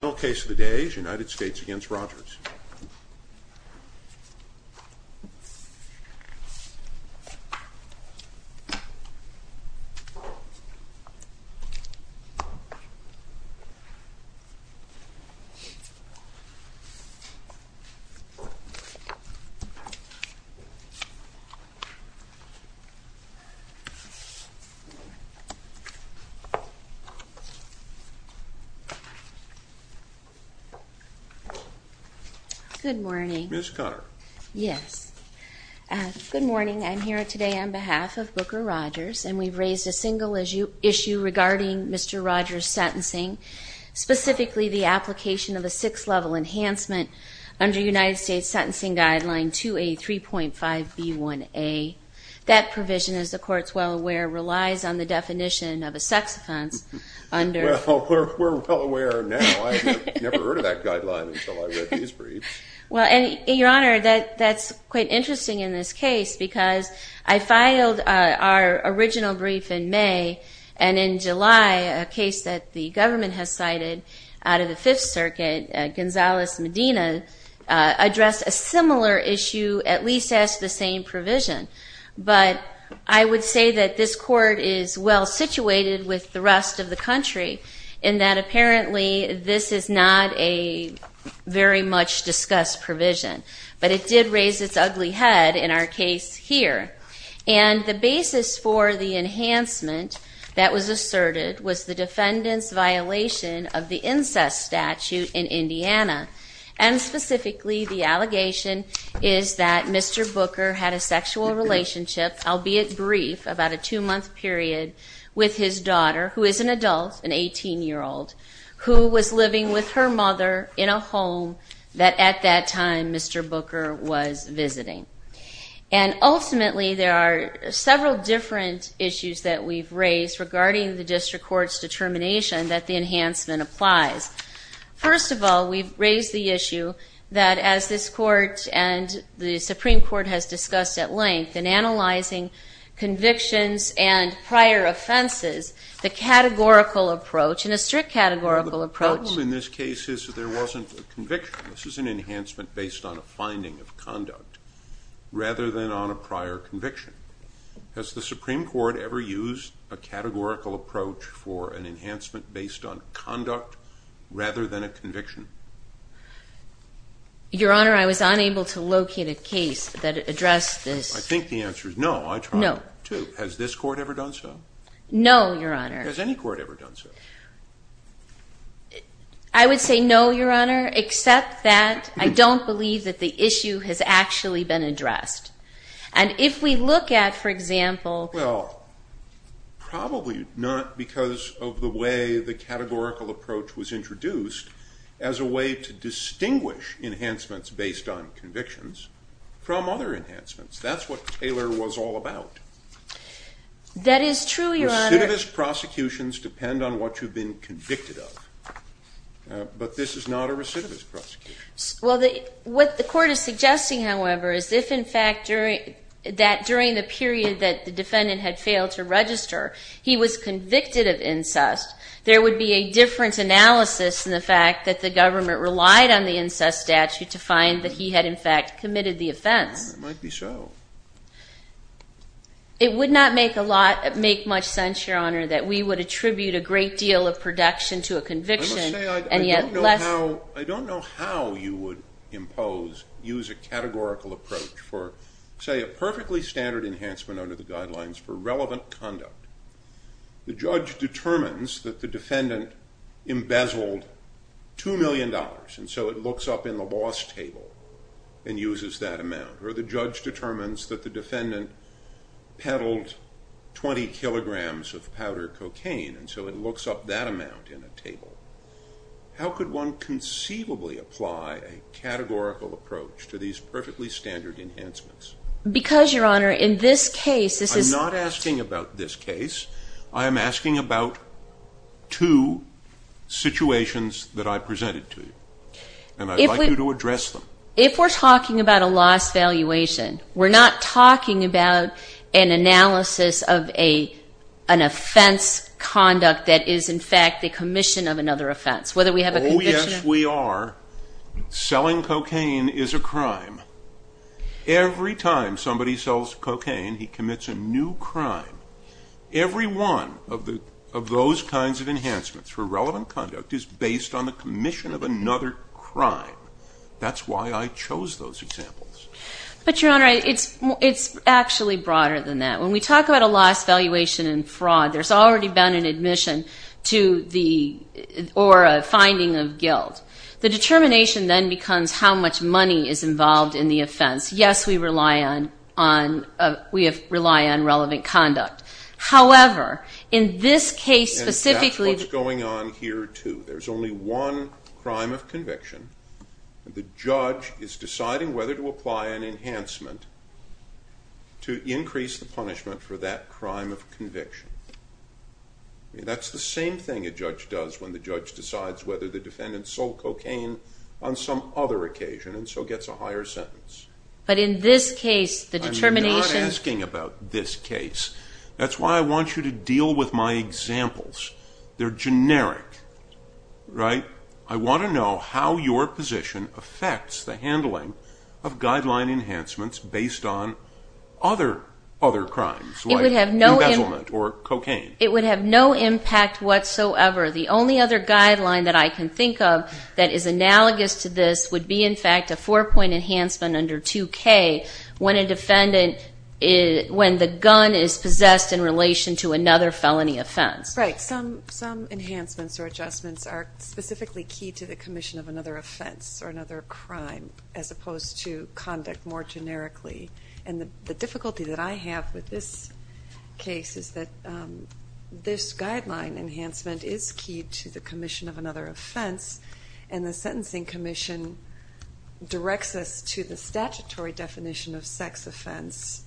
Final case of the day, United States v. Rogers Good morning. I'm here today on behalf of Booker Rogers, and we've raised a single issue regarding Mr. Rogers' sentencing, specifically the application of a six-level enhancement under United States Sentencing Guideline 2A3.5b1a. That provision, as the Court's well aware, relies on the definition of a sex offense under… Well, we're well aware now. I had never heard of that guideline until I read these briefs. Well, and, Your Honor, that's quite interesting in this case, because I filed our original brief in May, and in July, a case that the government has cited out of the Fifth Circuit, Gonzales-Medina, addressed a similar issue, at least as the same provision. But I would say that this Court is well-situated with the rest of the country in that apparently this is not a very much discussed provision. But it did raise its ugly head in our case here. And the basis for the enhancement that was asserted was the defendant's violation of the incest statute in Indiana, and specifically the allegation is that Mr. Booker had a sexual relationship, albeit brief, about a two-month period, with his daughter, who is an adult, an 18-year-old, who was living with her mother in a home that at that time Mr. Booker was visiting. And ultimately, there are several different issues that we've raised regarding the District Court's determination that the enhancement applies. First of all, we've raised the issue that, as this Court and the Supreme Court has discussed at length in analyzing convictions and prior offenses, the categorical approach, and a strict categorical approach… …rather than on a prior conviction. Has the Supreme Court ever used a categorical approach for an enhancement based on conduct rather than a conviction? Your Honor, I was unable to locate a case that addressed this. I think the answer is no. I tried. No. Has this Court ever done so? No, Your Honor. Has any court ever done so? I would say no, Your Honor, except that I don't believe that the issue has actually been addressed. And if we look at, for example… Well, probably not because of the way the categorical approach was introduced as a way to distinguish enhancements based on convictions from other enhancements. That's what Taylor was all about. That is true, Your Honor. Recidivist prosecutions depend on what you've been convicted of. But this is not a recidivist prosecution. Well, what the Court is suggesting, however, is if, in fact, during the period that the defendant had failed to register, he was convicted of incest, there would be a different analysis in the fact that the government relied on the incest statute to find that he had, in fact, committed the offense. It might be so. It would not make much sense, Your Honor, that we would attribute a great deal of protection to a conviction and yet less… I don't know how you would impose, use a categorical approach for, say, a perfectly standard enhancement under the guidelines for relevant conduct. The judge determines that the defendant embezzled $2 million, and so it looks up in the loss table and uses that amount. Or the judge determines that the defendant peddled 20 kilograms of powder cocaine, and so it looks up that amount in a table. How could one conceivably apply a categorical approach to these perfectly standard enhancements? Because, Your Honor, in this case, this is… I'm not asking about this case. I am asking about two situations that I presented to you, and I'd like you to address them. If we're talking about a loss valuation, we're not talking about an analysis of an offense conduct that is, in fact, the commission of another offense, whether we have a conviction… Oh, yes, we are. Selling cocaine is a crime. Every time somebody sells cocaine, he commits a new crime. Every one of those kinds of enhancements for relevant conduct is based on the commission of another crime. That's why I chose those examples. But, Your Honor, it's actually broader than that. When we talk about a loss valuation in fraud, there's already been an admission or a finding of guilt. The determination then becomes how much money is involved in the offense. Yes, we rely on relevant conduct. However, in this case specifically… And that's what's going on here, too. There's only one crime of conviction. The judge is deciding whether to apply an enhancement to increase the punishment for that crime of conviction. That's the same thing a judge does when the judge decides whether the defendant sold cocaine on some other occasion, and so gets a higher sentence. But in this case, the determination… I'm not asking about this case. That's why I want you to deal with my examples. They're generic, right? I want to know how your position affects the handling of guideline enhancements based on other crimes, like embezzlement or cocaine. It would have no impact whatsoever. The only other guideline that I can think of that is analogous to this would be, in fact, a four-point enhancement under 2K when the gun is possessed in relation to another felony offense. Right. Some enhancements or adjustments are specifically key to the commission of another offense or another crime, as opposed to conduct more generically. And the difficulty that I have with this case is that this guideline enhancement is key to the commission of another offense, and the sentencing commission directs us to the statutory definition of sex offense,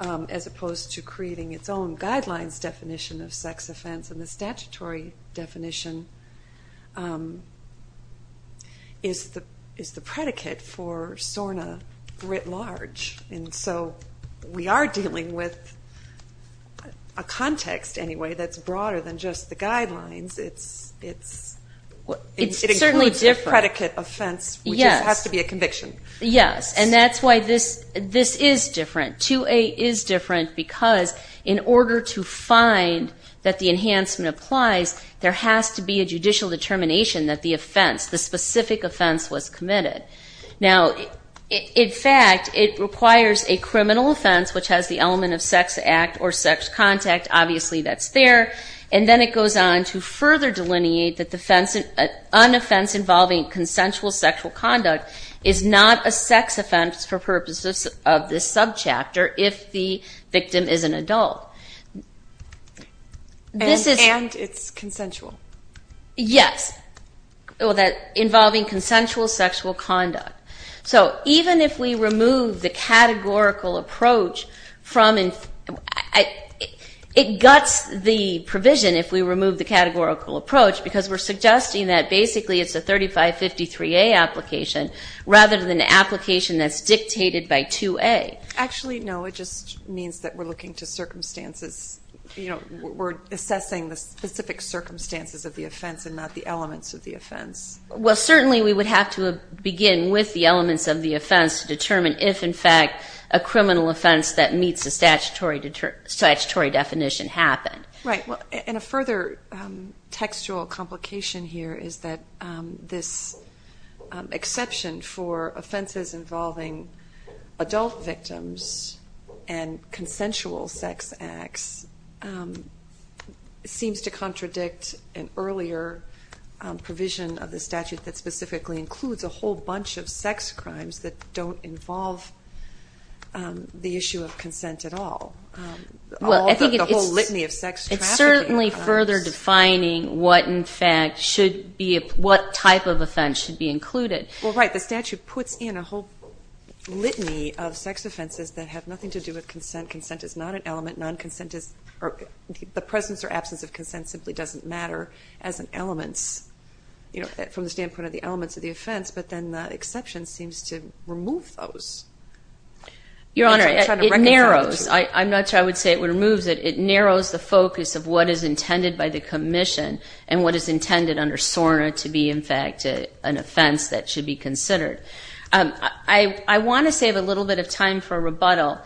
as opposed to creating its own guidelines definition of sex offense, and the statutory definition is the predicate for SORNA writ large. And so we are dealing with a context, anyway, that's broader than just the guidelines. It includes the predicate offense, which has to be a conviction. Yes, and that's why this is different. 2A is different because in order to find that the enhancement applies, there has to be a judicial determination that the offense, the specific offense, was committed. Now, in fact, it requires a criminal offense, which has the element of sex act or sex contact. Obviously, that's there. And then it goes on to further delineate that an offense involving consensual sexual conduct is not a sex offense for purposes of this subchapter if the victim is an adult. And it's consensual. Yes, involving consensual sexual conduct. So even if we remove the categorical approach from it, it guts the provision if we remove the categorical approach because we're suggesting that basically it's a 3553A application rather than an application that's dictated by 2A. Actually, no, it just means that we're looking to circumstances, you know, we're assessing the specific circumstances of the offense and not the elements of the offense. Well, certainly we would have to begin with the elements of the offense to determine if, in fact, a criminal offense that meets a statutory definition happened. Right. And a further textual complication here is that this exception for offenses involving adult victims and consensual sex acts seems to contradict an earlier provision of the statute that specifically includes a whole bunch of sex crimes that don't involve the issue of consent at all. Well, I think it's certainly further defining what type of offense should be included. Well, right, the statute puts in a whole litany of sex offenses that have nothing to do with consent. Consent is not an element. Non-consent is the presence or absence of consent simply doesn't matter as an element, you know, from the standpoint of the elements of the offense. But then the exception seems to remove those. Your Honor, it narrows. I'm not sure I would say it removes it. It narrows the focus of what is intended by the commission and what is intended under SORNA to be, in fact, an offense that should be considered. I want to save a little bit of time for rebuttal,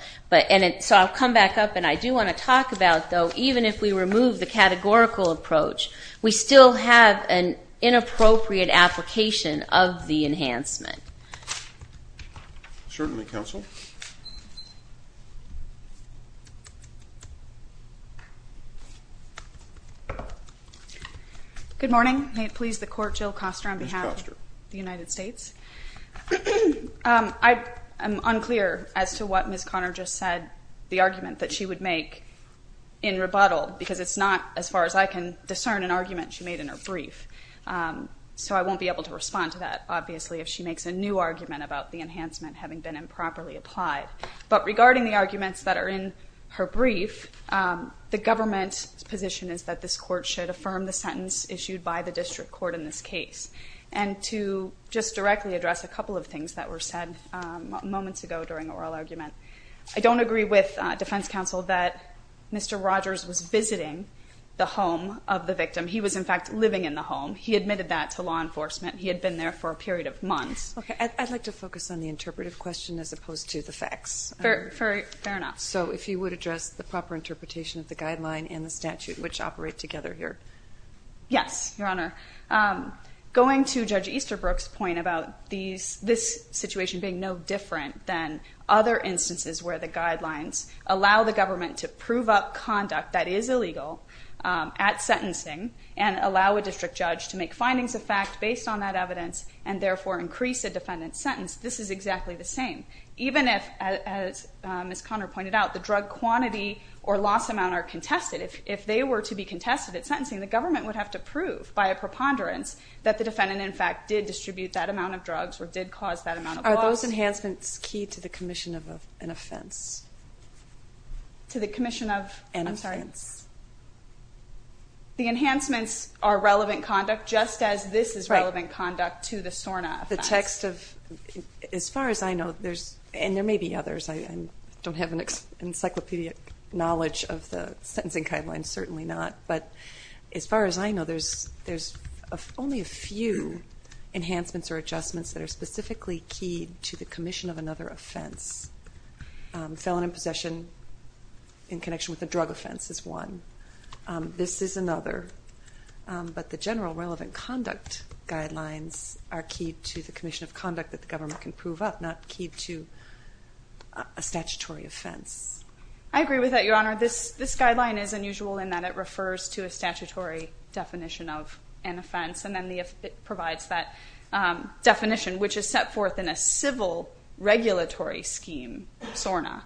so I'll come back up. And I do want to talk about, though, even if we remove the categorical approach, we still have an inappropriate application of the enhancement. Certainly, counsel. Good morning. May it please the Court, Jill Koster on behalf of the United States. Ms. Koster. I'm unclear as to what Ms. Conner just said, the argument that she would make in rebuttal, because it's not as far as I can discern an argument she made in her brief. So I won't be able to respond to that, obviously, if she makes a new argument about the enhancement having been improperly applied. But regarding the arguments that are in her brief, the government's position is that this Court should affirm the sentence issued by the district court in this case. And to just directly address a couple of things that were said moments ago during oral argument, I don't agree with defense counsel that Mr. Rogers was visiting the home of the victim. He was, in fact, living in the home. He admitted that to law enforcement. He had been there for a period of months. Okay. I'd like to focus on the interpretive question as opposed to the facts. Fair enough. So if you would address the proper interpretation of the guideline and the statute, which operate together here. Yes, Your Honor. Going to Judge Easterbrook's point about this situation being no different than other instances where the guidelines allow the government to prove up conduct that is illegal at sentencing and allow a district judge to make findings of fact based on that evidence and therefore increase a defendant's sentence, this is exactly the same. Even if, as Ms. Conner pointed out, the drug quantity or loss amount are contested. If they were to be contested at sentencing, the government would have to prove by a preponderance that the defendant, in fact, Are those enhancements key to the commission of an offense? To the commission of? An offense. I'm sorry. The enhancements are relevant conduct just as this is relevant conduct to the SORNA offense. The text of, as far as I know, there's, and there may be others. I don't have an encyclopedic knowledge of the sentencing guidelines, certainly not. But as far as I know, there's only a few enhancements or adjustments that are specifically key to the commission of another offense. Felon in possession in connection with a drug offense is one. This is another. But the general relevant conduct guidelines are key to the commission of conduct that the government can prove up, not key to a statutory offense. I agree with that, Your Honor. This guideline is unusual in that it refers to a statutory definition of an offense and then provides that definition, which is set forth in a civil regulatory scheme, SORNA.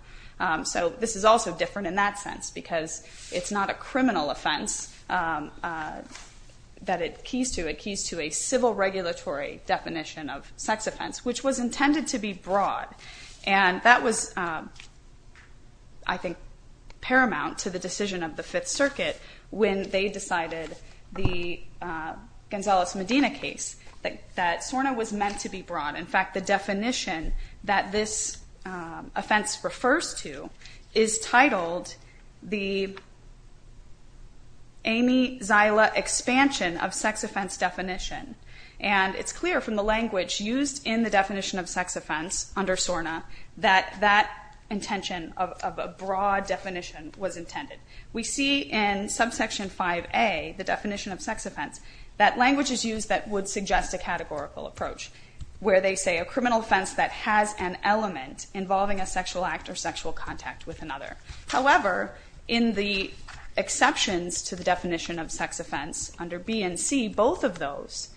So this is also different in that sense because it's not a criminal offense that it keys to. It keys to a civil regulatory definition of sex offense, which was intended to be broad. And that was, I think, paramount to the decision of the Fifth Circuit when they decided the Gonzales-Medina case, that SORNA was meant to be broad. In fact, the definition that this offense refers to is titled the Amy Zila Expansion of Sex Offense Definition. And it's clear from the language used in the definition of sex offense under SORNA that that intention of a broad definition was intended. We see in subsection 5A, the definition of sex offense, that language is used that would suggest a categorical approach, where they say a criminal offense that has an element involving a sexual act or sexual contact with another. However, in the exceptions to the definition of sex offense under B and C, both of those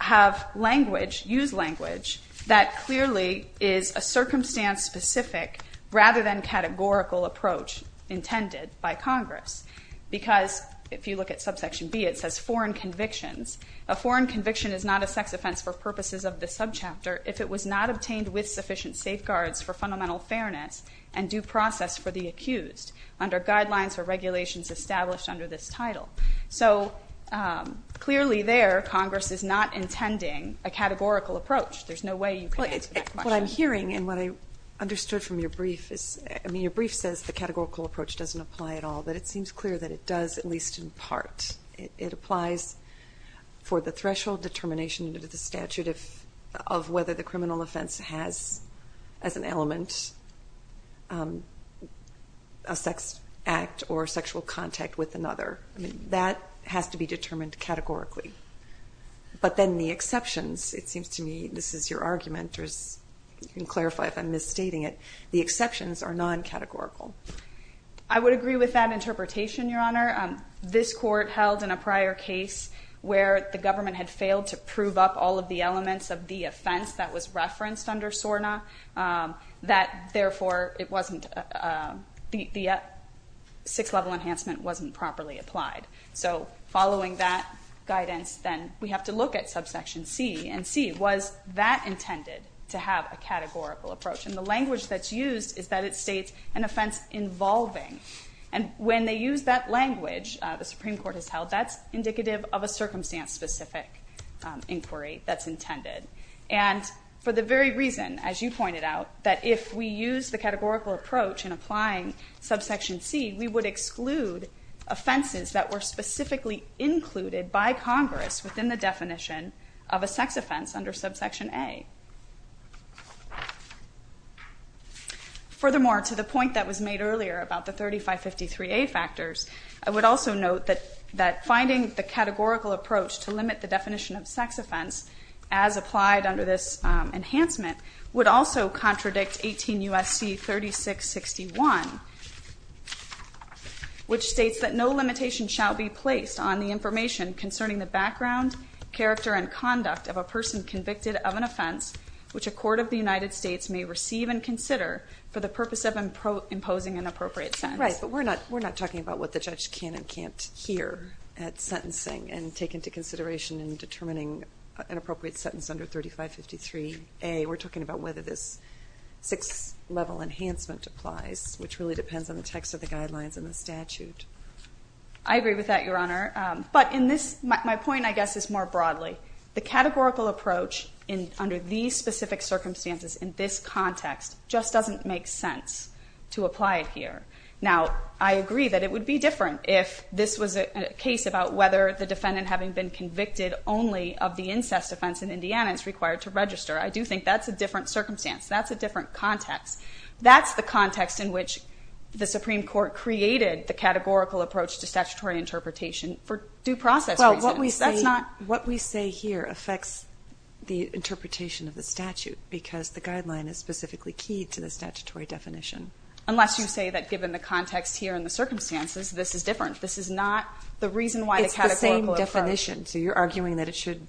have language, used language, that clearly is a circumstance-specific rather than categorical approach intended by Congress. Because if you look at subsection B, it says foreign convictions. A foreign conviction is not a sex offense for purposes of the subchapter if it was not obtained with sufficient safeguards for fundamental fairness and due process for the accused under guidelines or regulations established under this title. So clearly there, Congress is not intending a categorical approach. There's no way you can answer that question. What I'm hearing and what I understood from your brief is, I mean, your brief says the categorical approach doesn't apply at all, but it seems clear that it does at least in part. It applies for the threshold determination under the statute of whether the criminal offense has as an element a sex act or sexual contact with another. That has to be determined categorically. But then the exceptions, it seems to me, this is your argument, or you can clarify if I'm misstating it, the exceptions are non-categorical. I would agree with that interpretation, Your Honor. This court held in a prior case where the government had failed to prove up all of the elements of the offense that was referenced under SORNA, that therefore it wasn't, the six-level enhancement wasn't properly applied. So following that guidance, then we have to look at subsection C. And C, was that intended to have a categorical approach? And the language that's used is that it states an offense involving. And when they use that language, the Supreme Court has held, that's indicative of a circumstance-specific inquiry that's intended. And for the very reason, as you pointed out, that if we use the categorical approach in applying subsection C, we would exclude offenses that were specifically included by Congress within the definition of a sex offense under subsection A. Furthermore, to the point that was made earlier about the 3553A factors, I would also note that finding the categorical approach to limit the definition of sex offense as applied under this enhancement would also contradict 18 U.S.C. 3661, which states that no limitation shall be placed on the information concerning the background, character, and conduct of a person convicted of an offense which a court of the United States may receive and consider for the purpose of imposing an appropriate sentence. Right, but we're not talking about what the judge can and can't hear at sentencing and take into consideration in determining an appropriate sentence under 3553A. We're talking about whether this six-level enhancement applies, which really depends on the text of the guidelines and the statute. I agree with that, Your Honor. But my point, I guess, is more broadly. The categorical approach under these specific circumstances in this context just doesn't make sense to apply it here. Now, I agree that it would be different if this was a case about whether the defendant having been convicted only of the incest offense in Indiana is required to register. I do think that's a different circumstance. That's a different context. That's the context in which the Supreme Court created the categorical approach to statutory interpretation for due process reasons. Well, what we say here affects the interpretation of the statute because the guideline is specifically key to the statutory definition. Unless you say that given the context here and the circumstances, this is different. This is not the reason why the categorical approach. It's the same definition. So you're arguing that it should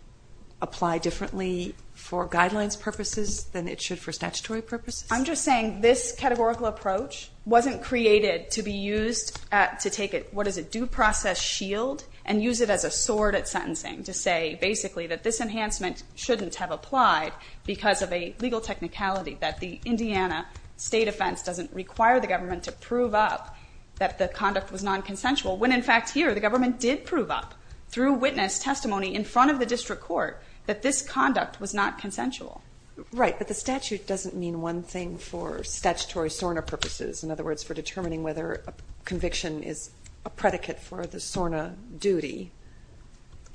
apply differently for guidelines purposes than it should for statutory purposes? I'm just saying this categorical approach wasn't created to be used to take what is a due process shield and use it as a sword at sentencing to say, basically, that this enhancement shouldn't have applied because of a legal technicality that the Indiana state offense doesn't require the government to prove up that the conduct was non-consensual when, in fact, here the government did prove up through witness testimony in front of the district court that this conduct was not consensual. Right, but the statute doesn't mean one thing for statutory SORNA purposes, in other words, for determining whether a conviction is a predicate for the SORNA duty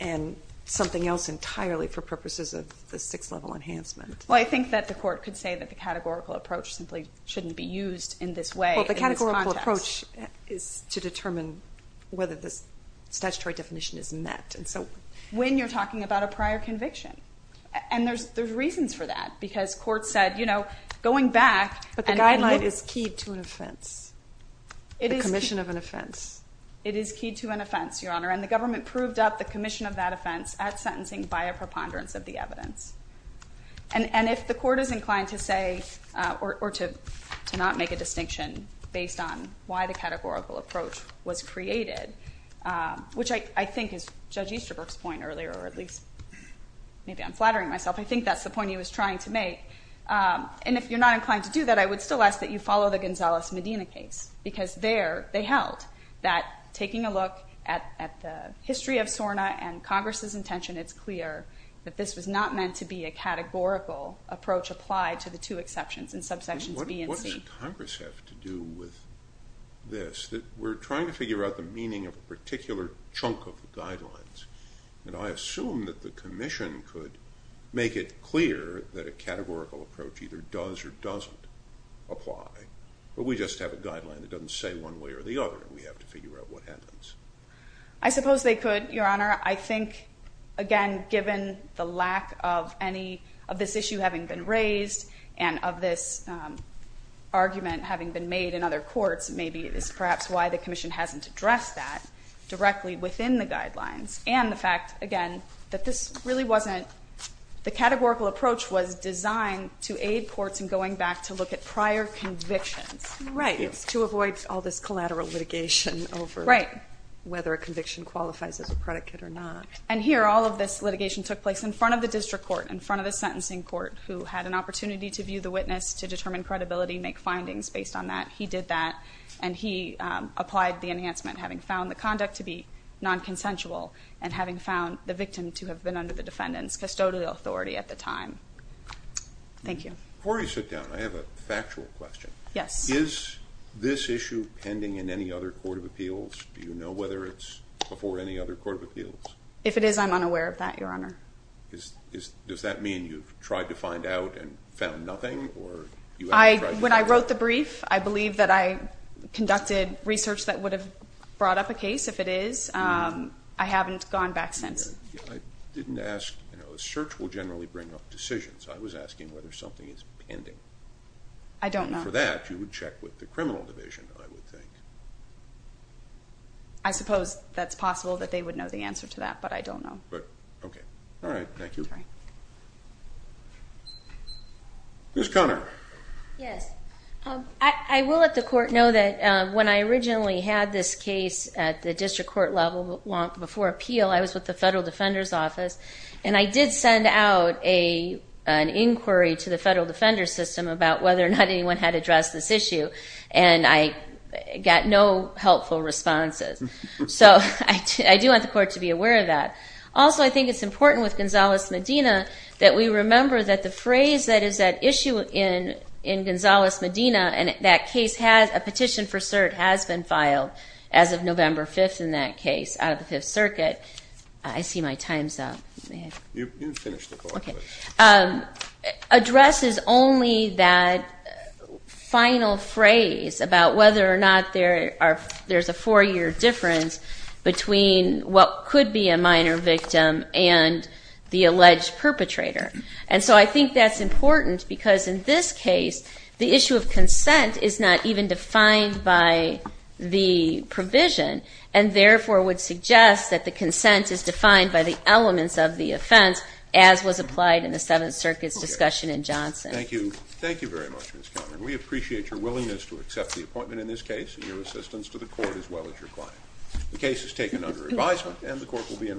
and something else entirely for purposes of the sixth-level enhancement. Well, I think that the court could say that the categorical approach simply shouldn't be used in this way in this context. Well, the categorical approach is to determine whether this statutory definition is met. And so when you're talking about a prior conviction, and there's reasons for that because courts said, you know, going back and look. But the guideline is key to an offense, the commission of an offense. It is key to an offense, Your Honor, and the government proved up the commission of that offense at sentencing by a preponderance of the evidence. And if the court is inclined to say or to not make a distinction based on why the categorical approach was created, which I think is Judge Easterbrook's point earlier, or at least maybe I'm flattering myself. I think that's the point he was trying to make. And if you're not inclined to do that, I would still ask that you follow the Gonzalez-Medina case because there they held that taking a look at the history of SORNA and Congress's intention, it's clear that this was not meant to be a categorical approach applied to the two exceptions in subsections B and C. What does Congress have to do with this? We're trying to figure out the meaning of a particular chunk of the guidelines, and I assume that the commission could make it clear that a categorical approach either does or doesn't apply. But we just have a guideline that doesn't say one way or the other, and we have to figure out what happens. I suppose they could, Your Honor. I think, again, given the lack of any of this issue having been raised and of this argument having been made in other courts, maybe it is perhaps why the commission hasn't addressed that directly within the guidelines and the fact, again, that this really wasn't the categorical approach was designed to aid courts in going back to look at prior convictions. Right, to avoid all this collateral litigation over. Right. Whether a conviction qualifies as a predicate or not. And here, all of this litigation took place in front of the district court, in front of the sentencing court, who had an opportunity to view the witness, to determine credibility, make findings based on that. He did that, and he applied the enhancement, having found the conduct to be nonconsensual and having found the victim to have been under the defendant's custodial authority at the time. Thank you. Before you sit down, I have a factual question. Yes. Is this issue pending in any other court of appeals? Do you know whether it's before any other court of appeals? If it is, I'm unaware of that, Your Honor. Does that mean you've tried to find out and found nothing? When I wrote the brief, I believe that I conducted research that would have brought up a case. If it is, I haven't gone back since. I didn't ask, you know, a search will generally bring up decisions. I was asking whether something is pending. I don't know. For that, you would check with the criminal division, I would think. I suppose that's possible that they would know the answer to that, but I don't know. Okay. All right. Thank you. Ms. Conner. Yes. I will let the court know that when I originally had this case at the district court level before appeal, I was with the Federal Defender's Office, and I did send out an inquiry to the Federal Defender's System about whether or not anyone had addressed this issue, and I got no helpful responses. So I do want the court to be aware of that. Also, I think it's important with Gonzales-Medina that we remember that the phrase that is at issue in Gonzales-Medina, and that case has a petition for cert has been filed as of November 5th in that case out of the Fifth Circuit. I see my time's up. You can finish the quote. Okay. Addresses only that final phrase about whether or not there's a four-year difference between what could be a minor victim and the alleged perpetrator. And so I think that's important because in this case, the issue of consent is not even defined by the provision and therefore would suggest that the consent is defined by the elements of the offense as was applied in the Seventh Circuit's discussion in Johnson. Thank you. Thank you very much, Ms. Conner. We appreciate your willingness to accept the appointment in this case and your assistance to the court as well as your client. The case is taken under advisement, and the court will be in recess.